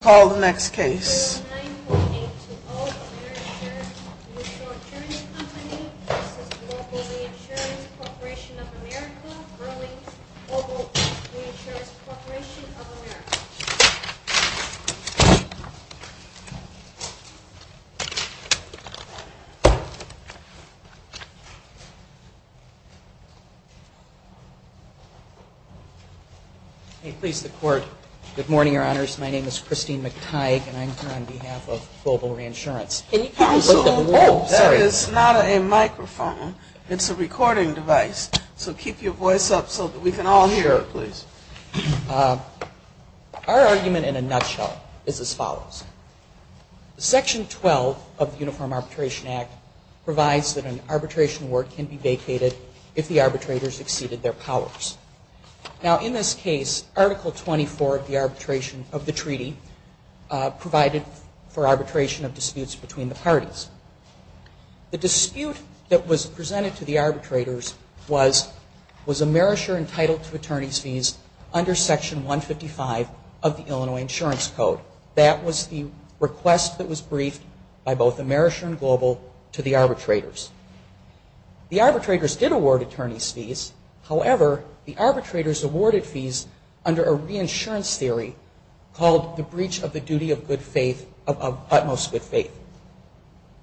Corporation of America, Burling, Global Reinsurance Corporation of America. Good morning, Your Honors. My name is Christine McTighe, and I'm here on behalf of Global Reinsurance. That is not a microphone. It's a recording device. So keep your voice up so that we can all hear it, please. Our argument in a nutshell is as follows. Section 12 of the Uniform Arbitration Act provides that an arbitration work can be vacated if the arbitrators exceeded their powers. Now in this case, Article 24 of the arbitration of the treaty provided for arbitration of disputes between the parties. The dispute that was presented to the arbitrators was a merisher entitled to attorney's fees under Section 155 of the Illinois Insurance Code. That was the request that was briefed by both a merisher and global to the arbitrators. The arbitrators did award attorney's fees. However, the arbitrators awarded fees under a reinsurance theory called the breach of the duty of utmost good faith.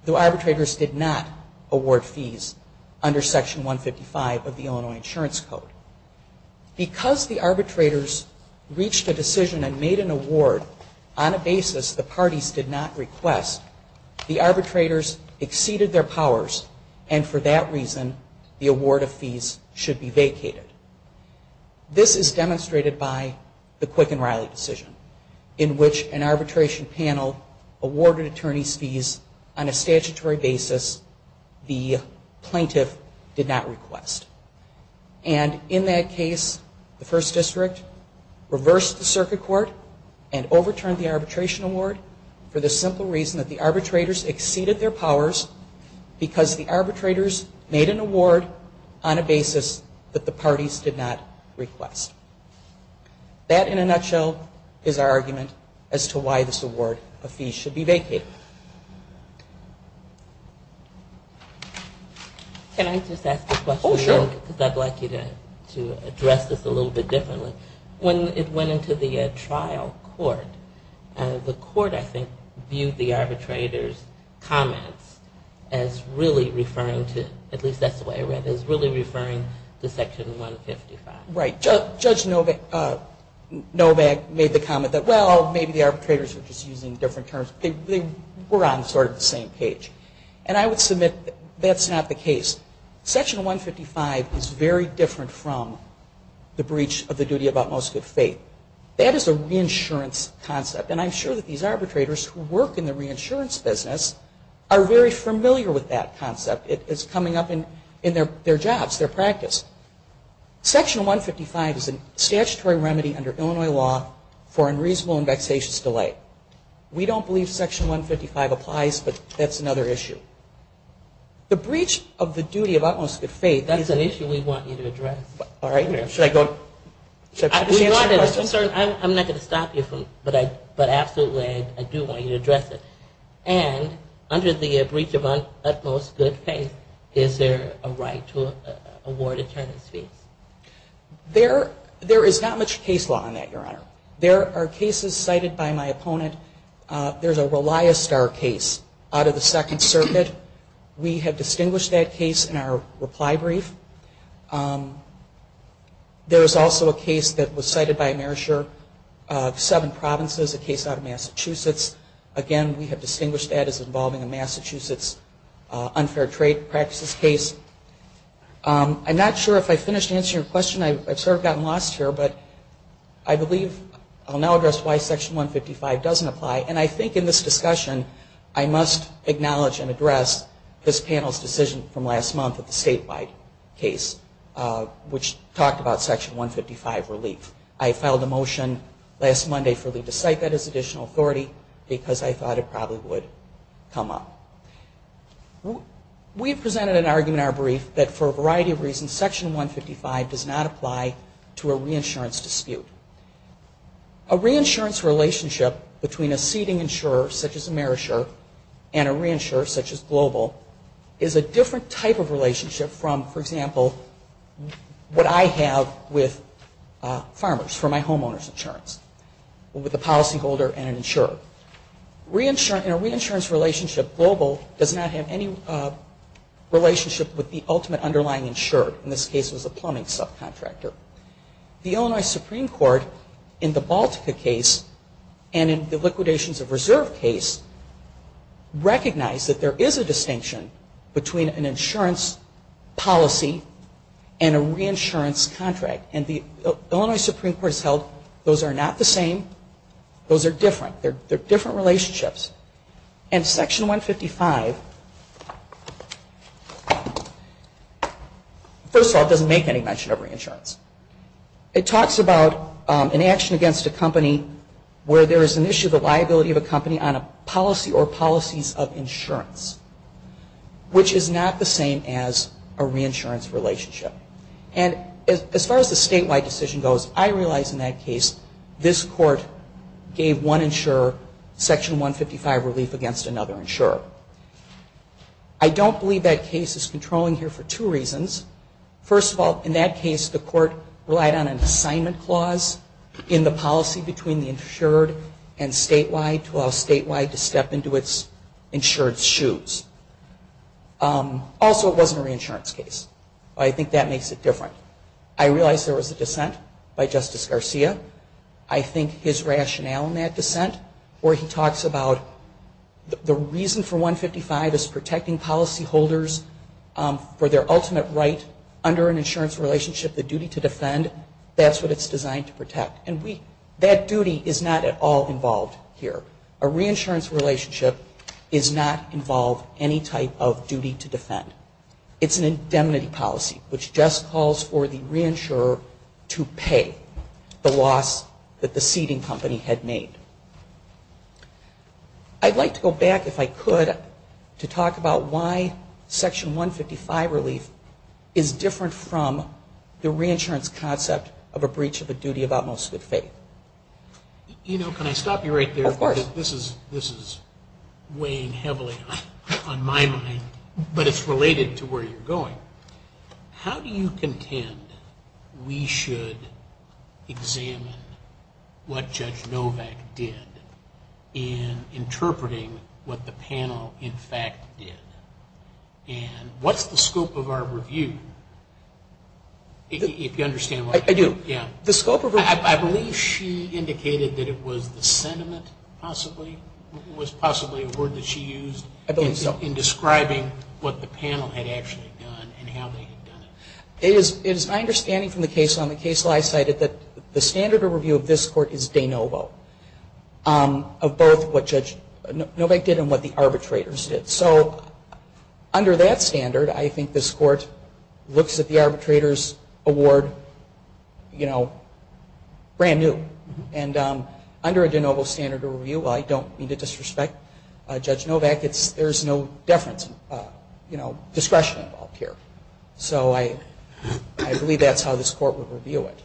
The arbitrators did not award fees under Section 155 of the Illinois Insurance Code. Because the arbitrators reached a decision and made an award on a basis the parties did not request, the arbitrators exceeded their powers and for that reason the award of fees should be vacated. This is demonstrated by the Quicken-Riley decision in which an arbitration panel awarded attorney's fees on a statutory basis the plaintiff did not request. And in that case, the First District reversed the circuit court and overturned the arbitration award for the simple reason that the arbitrators exceeded their powers because the arbitrators made an award on a basis that the parties did not request. That in a nutshell is our argument as to why this award of fees should be vacated. Can I just ask a question? Oh, sure. Because I'd like you to address this a little bit differently. When it went into the trial court, the court I think viewed the arbitrator's comments as really referring to, at least that's the way I read it, as really referring to Section 155. Right. Judge Novak made the comment that well, maybe the arbitrators were just using different terms. They were on sort of the same page. And I would submit that's not the case. Section 155 is very different from the breach of the duty about most good faith. That is a reinsurance concept and I'm sure that these arbitrators who work in the reinsurance business are very familiar with that concept. It's coming up in their jobs, their practice. Section 155 is a statutory remedy under Illinois law for unreasonable and vexatious delight. We don't believe Section 155 applies, but that's another issue. The breach of the duty of utmost good faith, that's an issue we want you to address. All right. I'm not going to stop you, but absolutely I do want you to address it. And under the There is not much case law on that, Your Honor. There are cases cited by my opponent. There's a Reliostar case out of the Second Circuit. We have distinguished that case in our reply brief. There was also a case that was cited by Marisher of seven provinces, a case out of Massachusetts. Again, we have distinguished that as involving a Massachusetts unfair trade practices case. I'm not sure if I finished answering your question. I've sort of gotten lost here, but I believe I'll now address why Section 155 doesn't apply. And I think in this discussion I must acknowledge and address this panel's decision from last month of the statewide case, which talked about Section 155 relief. I filed a motion last Monday for Lee to cite that as additional authority because I thought it probably would come up. We've presented an argument in our brief that for a variety of reasons, Section 155 does not apply to a reinsurance dispute. A reinsurance relationship between a seeding insurer, such as a Marisher, and a reinsurer, such as Global, is a different type of relationship from, for example, what I have with farmers for my homeowner's insurance, with a policyholder and an insurer. In a reinsurance relationship, Global does not have any relationship with the ultimate underlying insurer. In this case it was a plumbing subcontractor. The Illinois Supreme Court in the Baltica case and in the liquidations of reserve case recognized that there is a distinction between an insurance policy and a reinsurance contract. And the Illinois Supreme Court has held those are not the same. Those are different. They're different relationships. And Section 155, first of all, doesn't make any mention of reinsurance. It talks about an action against a company where there is an issue of the liability of a company on a policy or policies of insurance, which is not the same as a reinsurance relationship. And as far as the statewide decision goes, I realize in that case this Court gave one insurer Section 155 relief against another insurer. I don't believe that case is controlling here for two reasons. First of all, in that case the Court relied on an assignment clause in the policy between the insured and statewide to allow statewide to step into its insured's shoes. Also, it wasn't a reinsurance case. I think that makes it different. I realize there was a dissent by Justice Garcia. I think his rationale in that dissent where he talks about the reason for 155 is protecting policyholders for their ultimate right under an insurance relationship, the duty to defend. That's what it's designed to protect. And that duty is not at all involved here. A reinsurance relationship does not involve any type of duty to defend. It's an indemnity policy, which just calls for the reinsurer to pay the loss that the seeding company had made. I'd like to go back, if I could, to talk about why Section 155 relief is different from the reinsurance concept of a breach of a duty of utmost good faith. You know, can I stop you right there? Of course. This is weighing heavily on my mind, but it's related to where you're going. How do you interpret what the panel, in fact, did? And what's the scope of our review? I do. I believe she indicated that it was the sentiment, possibly, was possibly a word that she used in describing what the panel had actually done and how they had done it. It is my understanding from the case on the case I cited that the standard of review of this court is de novo of both what Judge Novak did and what the arbitrators did. So under that standard, I think this court looks at the arbitrators' award, you know, brand new. And under a de novo standard of review, I don't mean to disrespect Judge Novak, there's no deference, you know, discretion involved here. So I believe that's how this court would review it.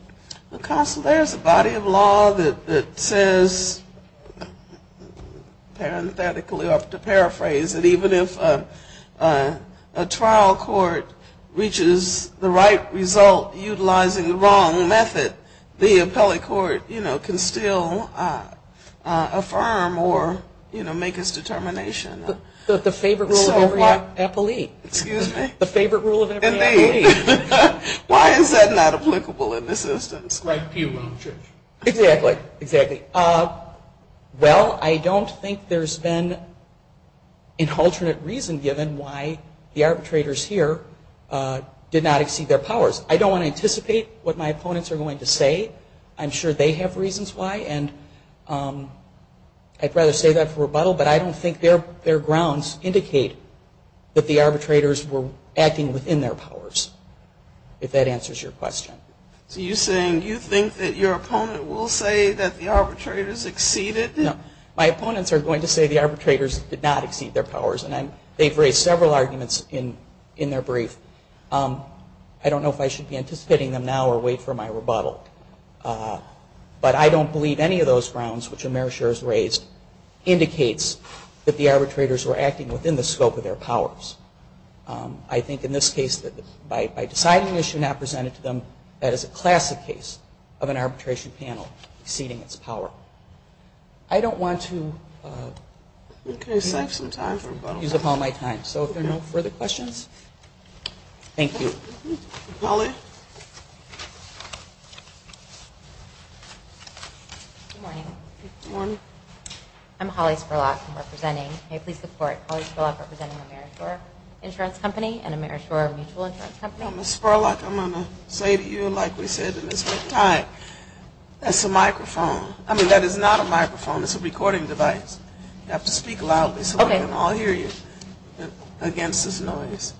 There's a body of law that says, parenthetically, or to paraphrase, that even if a trial court reaches the right result utilizing the wrong method, the appellate court, you know, can still affirm or, you know, make its determination. The favorite rule of every appellee. Excuse me? The favorite rule of every appellee. Why is that not applicable in this instance? Exactly. Well, I don't think there's been an alternate reason given why the arbitrators here did not exceed their powers. I don't want to anticipate what my opponents are going to say. I'm sure they have reasons why. And I'd rather say that for rebuttal, but I don't think their grounds indicate that the arbitrators were acting within their powers, if that answers your question. So you're saying you think that your opponent will say that the arbitrators exceeded? No. My opponents are going to say the arbitrators did not exceed their powers. And they've raised several arguments in their brief. I don't know if I should be anticipating them now or wait for my rebuttal. But I don't believe any of those grounds, which Amerisher has that the arbitrators were acting within the scope of their powers. I think in this case that by deciding it should not be presented to them, that is a classic case of an arbitration panel exceeding its power. I don't want to use up all my time. So if there are no further questions, thank you. Holly? Good morning. I'm Holly Spurlock. I'm representing Amerishore Insurance Company and Amerishore Mutual Insurance Company. Ms. Spurlock, I'm going to say to you, like we said in this brief time, that's a microphone. I mean, that is not a microphone. It's a recording device. You have to speak loudly so we can all hear you against this noise.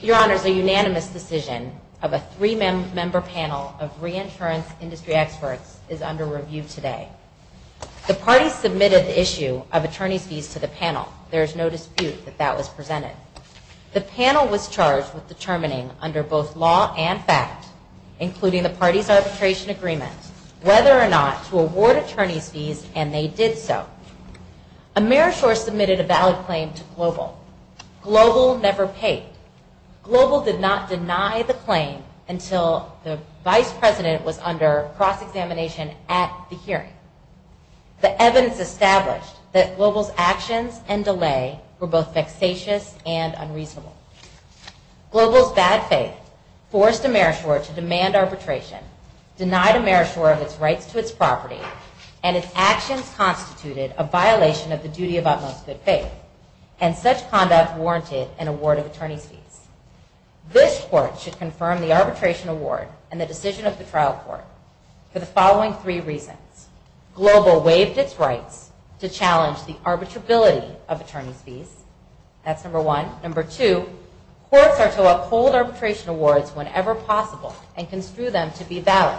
Your Honors, a unanimous decision of a three-member panel of reinsurance industry experts is under review today. The party submitted the issue of attorney's fees to the panel. There is no dispute that that was presented. The panel was charged with determining under both law and fact, including the party's arbitration agreement, whether or not to award attorney's fees. Amerishore submitted a valid claim to Global. Global never paid. Global did not deny the claim until the vice president was under cross-examination at the hearing. The evidence established that Global's actions and delay were both vexatious and unreasonable. Global's bad faith forced Amerishore to demand arbitration, denied Amerishore of its rights to its property, and its actions constituted a violation of the duty of utmost good faith. And such conduct warranted an award of attorney's fees. This Court should confirm the arbitration award and the decision of the trial court for the following three reasons. Global waived its rights to challenge the arbitrability of attorney's fees. That's number one. Number two, courts are to uphold arbitration awards whenever possible and construe them to be valid.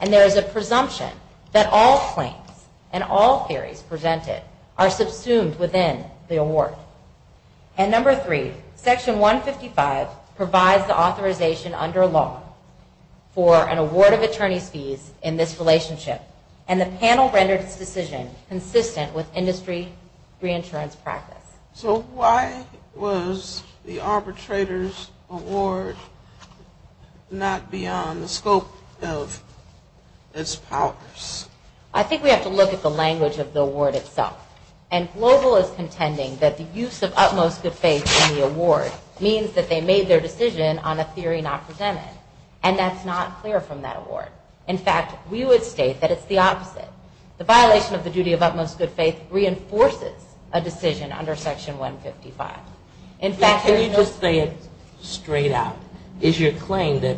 And there is a presumption that all claims and all theories presented are subsumed within the award. And number three, Section 155 provides the authorization under law for an award of attorney's fees in this relationship, and the panel rendered its decision consistent with industry reinsurance practice. So why was the arbitrator's award not beyond the scope of its powers? I think we have to look at the language of the award itself. And Global is contending that the use of utmost good faith in the award means that they made their decision on a theory not presented. And that's not clear from that award. In fact, we would state that it's the opposite. The violation of the duty of utmost good faith reinforces a decision under Section 155. Can you just say it straight out? Is your claim that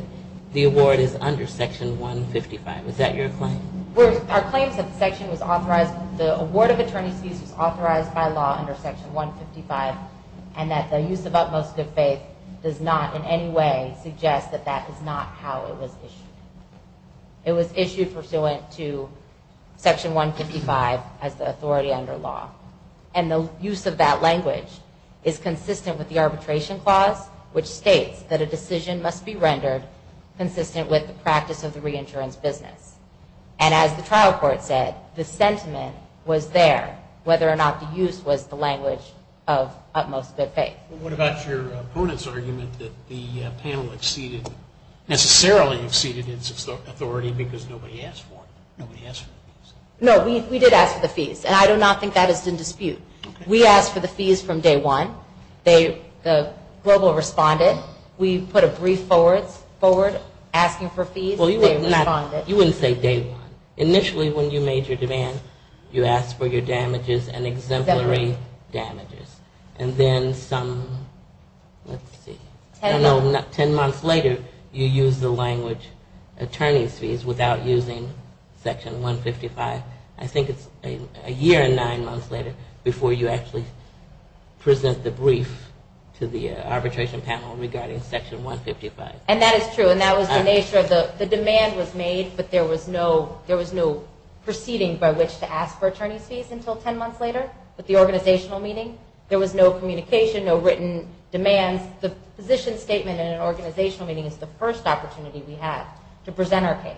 the award is under Section 155? Is that your claim? Our claim is that the award of attorney's fees was authorized by law under Section 155 and that the use of utmost good faith does not in any way suggest that that is not how it was issued. It was issued pursuant to Section 155 as the authority under law. And the use of that language is consistent with the arbitration clause, which states that a decision must be rendered consistent with the practice of the reinsurance business. And as the trial court said, the sentiment was there, whether or not the use was the language of utmost good faith. What about your opponent's argument that the panel exceeded, necessarily exceeded its authority because nobody asked for it? Nobody asked for the fees? No, we did ask for the fees. And I do not think that is in dispute. We asked for the fees from day one. The global responded. We put a brief forward asking for fees. Well, you wouldn't say day one. Initially when you made your demand, you asked for your damages and exemplary damages. And then some, let's see, I don't know, 10 months later you used the language attorney's fees without using Section 155. I think it's a year and nine months later before you actually present the brief to the arbitration panel regarding Section 155. And that is true. And that was the nature of the, the demand was made, but there was no, there was no demand for attorney's fees until 10 months later with the organizational meeting. There was no communication, no written demands. The position statement in an organizational meeting is the first opportunity we had to present our case.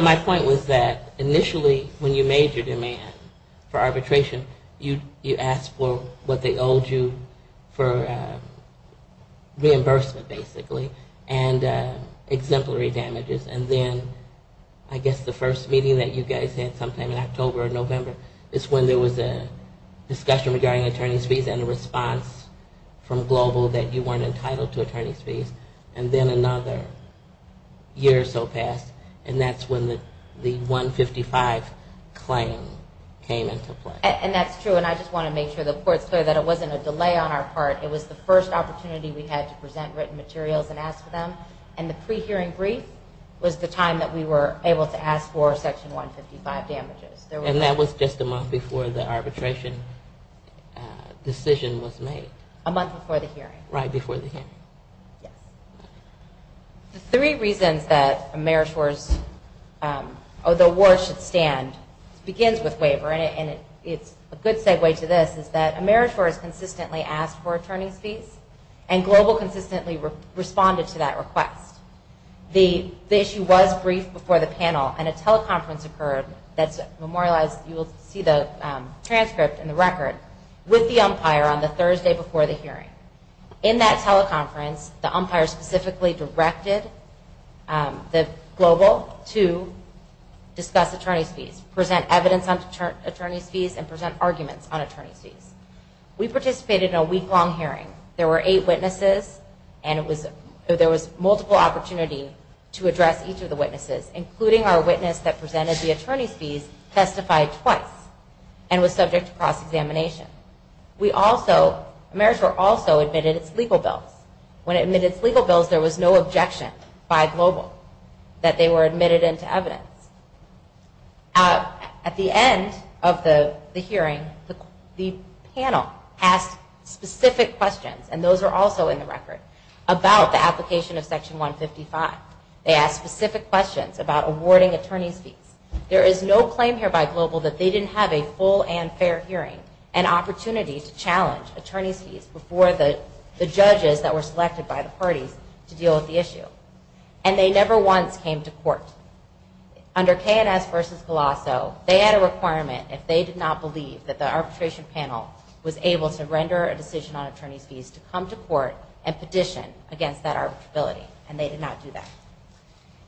My point was that initially when you made your demand for arbitration, you asked for what they owed you for over November. It's when there was a discussion regarding attorney's fees and a response from global that you weren't entitled to attorney's fees. And then another year or so passed. And that's when the 155 claim came into play. And that's true. And I just want to make sure the court's clear that it wasn't a delay on our part. It was the first opportunity we had to present written materials and ask for them. And the pre-hearing brief was the time that we were able to present our case. And that was just a month before the arbitration decision was made. A month before the hearing. Right before the hearing. The three reasons that Ameritor's, or the award should stand begins with waiver. And it's a good segue to this is that Ameritor's consistently asked for attorney's fees. And global consistently responded to that request. The issue was briefed before the panel. And a teleconference occurred that's memorialized, you will see the transcript and the record, with the umpire on the Thursday before the hearing. In that teleconference, the umpire specifically directed the global to discuss attorney's fees, present evidence on attorney's fees, and present arguments on attorney's fees. We participated in a week-long hearing. There were eight witnesses. And it was, there was multiple opportunity to address each of the witnesses, including our witness that presented the attorney's fees testified twice. And was subject to cross-examination. We also, Ameritor's also admitted its legal bills. When it admitted its legal bills, there was no objection by global that they were admitted into evidence. At the end of the hearing, the panel asked specific questions. And those are also in the report. About the application of section 155. They asked specific questions about awarding attorney's fees. There is no claim here by global that they didn't have a full and fair hearing and opportunity to challenge attorney's fees before the judges that were selected by the parties to deal with the issue. And they never once came to court. Under K&S versus Colosso, they had a requirement if they did not believe that the arbitration panel was able to render a decision on attorney's fees to come to court and petition against that arbitrability. And they did not do that.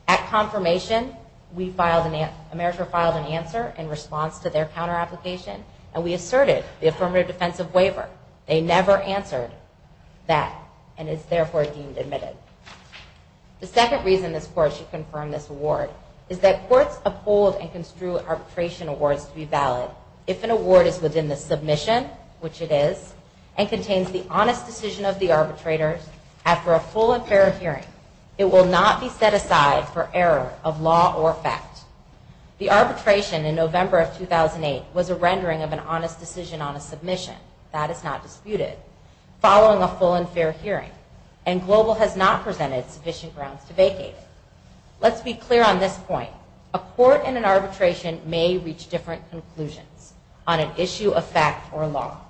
At confirmation, we filed, Ameritor filed an answer in response to their counter application. And we asserted the affirmative defensive waiver. They never answered that. And it's therefore deemed admitted. The second reason this court should confirm this award is that courts uphold and construe arbitration awards to be valid if an award is within the submission, which it is, and contains the honest decision of the arbitrator after a full and fair hearing. It will not be set aside for error of law or fact. The arbitration in November of 2008 was a rendering of an honest decision on a submission. That is not disputed. Following a full and fair hearing. And global has not presented sufficient grounds to vacate. Let's be clear on this point. A court and an arbitration may reach different conclusions on an arbitration. They may not issue a fact or law.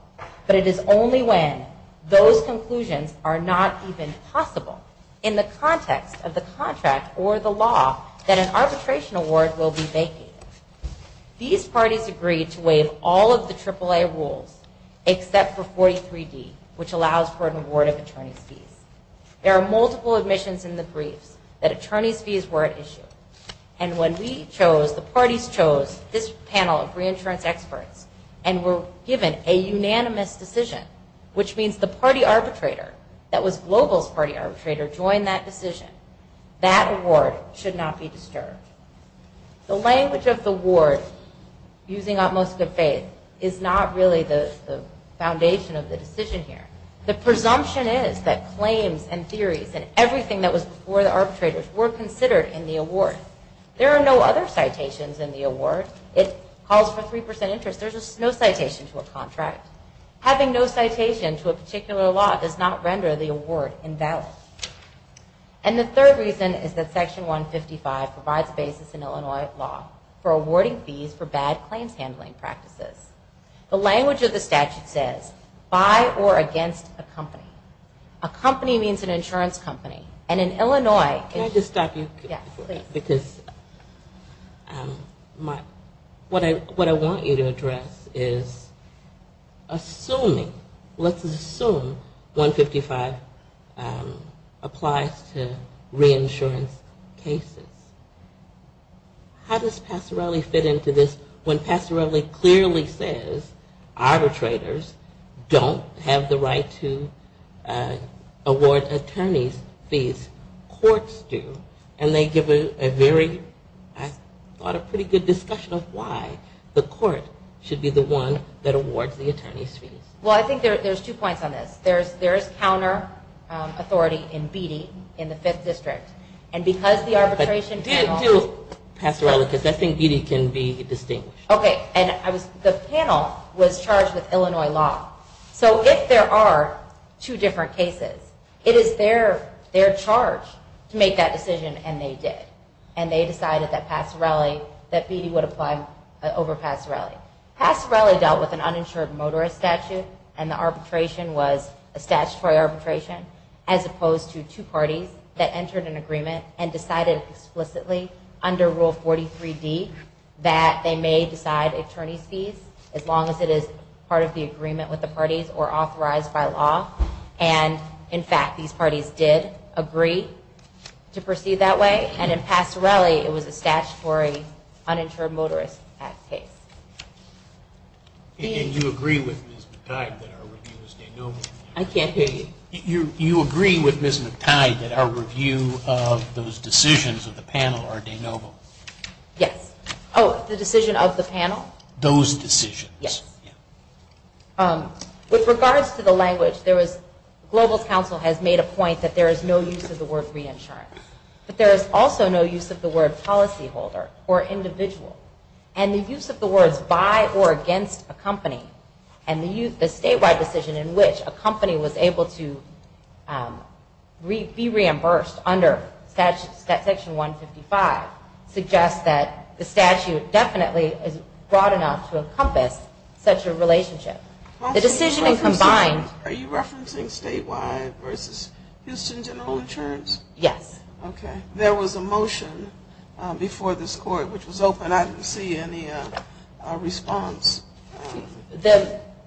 But it is only when those conclusions are not even possible in the context of the contract or the law that an arbitration award will be vacated. These parties agreed to waive all of the AAA rules except for 43D, which allows for an award of attorney's fees. There are multiple admissions in the briefs that attorney's fees were at issue. And when we chose, the parties chose this panel of reinsurance experts and were given a unanimous decision, which means the party arbitrator that was global's party arbitrator joined that decision. That award should not be disturbed. The language of the award, using utmost good faith, is not really the foundation of the decision here. The presumption is that claims and handling practices. There are no other citations in the award. It calls for 3% interest. There is no citation to a contract. Having no citation to a particular law does not render the award invalid. And the third reason is that section 155 provides basis in Illinois law for awarding fees for bad claims handling practices. The language of the statute says by or against a company. A company means an agency. What I want you to address is assuming, let's assume 155 applies to reinsurance cases. How does Passarelli fit into this when Passarelli clearly says arbitrators don't have the right to award attorney's fees. Courts do. And they give a very clear and clear answer. I thought a pretty good discussion of why the court should be the one that awards the attorney's fees. Well, I think there's two points on this. There is counter authority in Beattie in the 5th district. And because the arbitration panel. And to Passarelli, because I think Beattie can be distinguished. Okay. And the panel was charged with Illinois law. So if there are two different cases, it is their charge to make that decision and they did. And they decided that Passarelli that Beattie would apply over Passarelli. Passarelli dealt with an uninsured motorist statute and the arbitration was a statutory arbitration as opposed to two parties that entered an agreement and decided explicitly under rule 43D that they may decide attorney's fees as long as it is part of the agreement with the parties or authorized by law. And in fact, these are statutory uninsured motorist act cases. And you agree with Ms. McTide that our review is de novo? I can't hear you. You agree with Ms. McTide that our review of those decisions of the panel are de novo? Yes. Oh, the decision of the panel? Those decisions. Yes. With regards to the language, there was, global counsel has made a point that there is no use of the word policyholder or individual. And the use of the words by or against a company and the statewide decision in which a company was able to be reimbursed under section 155 suggests that the statute definitely is broad enough to encompass such a relationship. The decision is combined. Are you referencing statewide versus Houston General Insurance? Yes. Okay. There was a motion that was made before this court which was open. I didn't see any response.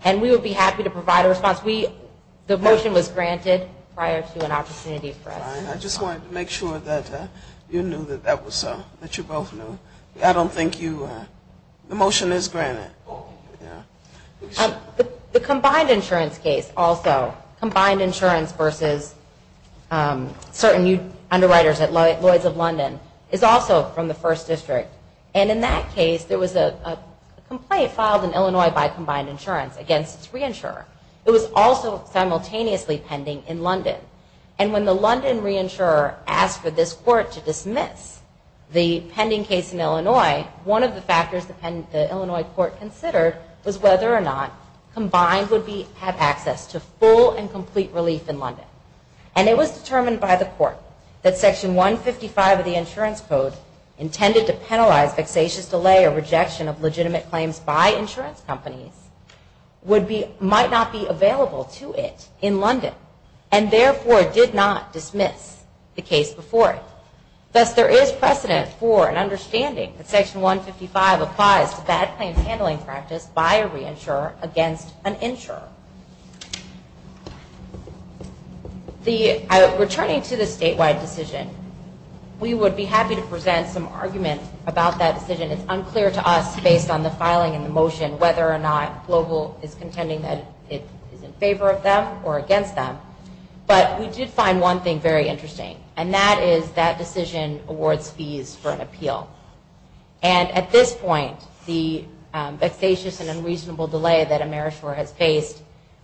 And we would be happy to provide a response. The motion was granted prior to an opportunity for us. I just wanted to make sure that you knew that that was so, that you both knew. I don't think you, the motion is granted. The combined insurance case also, combined insurance versus certain underwriters at Lloyd's of the first district. And in that case, there was a complaint filed in Illinois by combined insurance against its reinsurer. It was also simultaneously pending in London. And when the London reinsurer asked for this court to dismiss the pending case in Illinois, one of the factors the Illinois court considered was whether or not combined would have access to full and complete relief in London. And it was determined by the court that section 155 of the insurance code would not be applicable to the case. And that section 155, intended to penalize vexatious delay or rejection of legitimate claims by insurance companies, might not be available to it in London. And therefore, did not dismiss the case before it. Thus, there is precedent for an understanding that section 155 applies to bad claims handling practice by a reinsurer against an insurer. Returning to the argument about that decision, it's unclear to us based on the filing and the motion whether or not Global is contending that it is in favor of them or against them. But we did find one thing very interesting. And that is, that decision awards fees for an appeal. And at this point, the vexatious and unreasonable delay that AmeriShore has faced,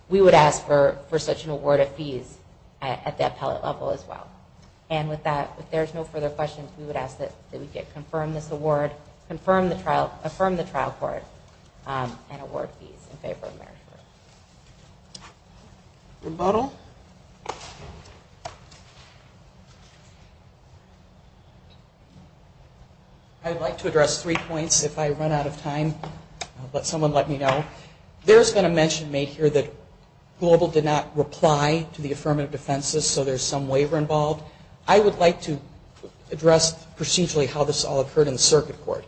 we would ask for such an award of fees at the appellate level as well. And with that, if there's no further questions, we would ask that we give your motion to confirm this award, confirm the trial, affirm the trial court, and award fees in favor of AmeriShore. I would like to address three points if I run out of time. Someone let me know. There's been a mention made here that Global did not reply to the affirmative defenses, so there's some waiver involved. I would like to address procedurally how the process all occurred in the circuit court.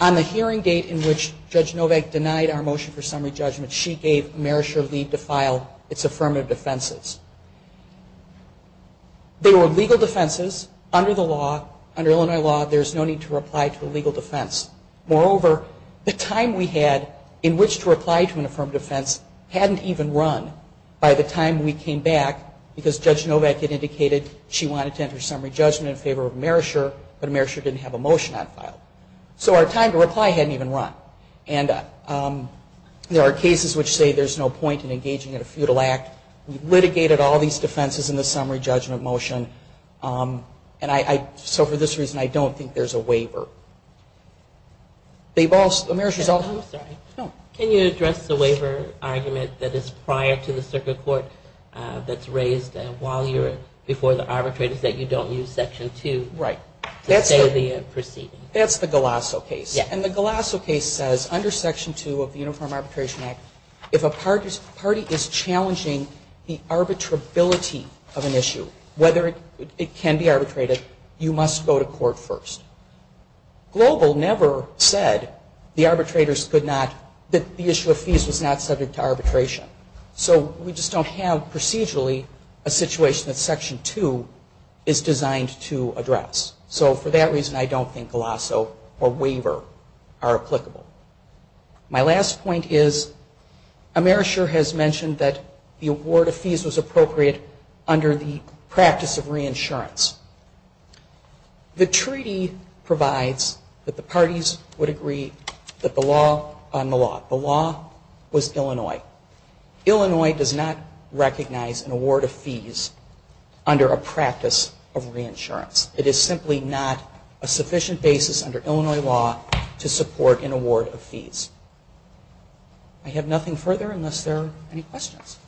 On the hearing date in which Judge Novak denied our motion for summary judgment, she gave AmeriShore leave to file its affirmative defenses. They were legal defenses under the law, under Illinois law, there's no need to reply to a legal defense. Moreover, the time we had in which to reply to an affirmative defense hadn't even run by the time we came back because Judge Novak had indicated she wanted to enter summary judgment in favor of AmeriShore, but AmeriShore didn't have a motion on file. So our time to reply hadn't even run. And there are cases which say there's no point in engaging in a futile act. We litigated all these defenses in the summary judgment motion, and so for this reason I don't think there's a waiver. Can you address the waiver argument that is prior to the circuit court that's raised before the arbitrators that you don't use Section 2 to say the proceeding? That's the Galasso case. And the Galasso case says under Section 2 of the Uniform Arbitration Act, if a party is challenging the arbitrability of an issue, whether it can be arbitrated, you must go to court first. Global never said the arbitrators could not, that the issue of fees was not subject to arbitration. So we just don't have procedurally a situation that Section 2 is designed to address. So for that reason I don't think Galasso or waiver are applicable. My last point is AmeriShore has mentioned that the award of fees was appropriate under the practice of reinsurance. The treaty provides that the parties would agree that the law on the law. The law was Illinois. Illinois does not recognize an award of fees under a practice of reinsurance. It is simply not a sufficient basis under Illinois law to support an award of fees. I have nothing further unless there are any questions.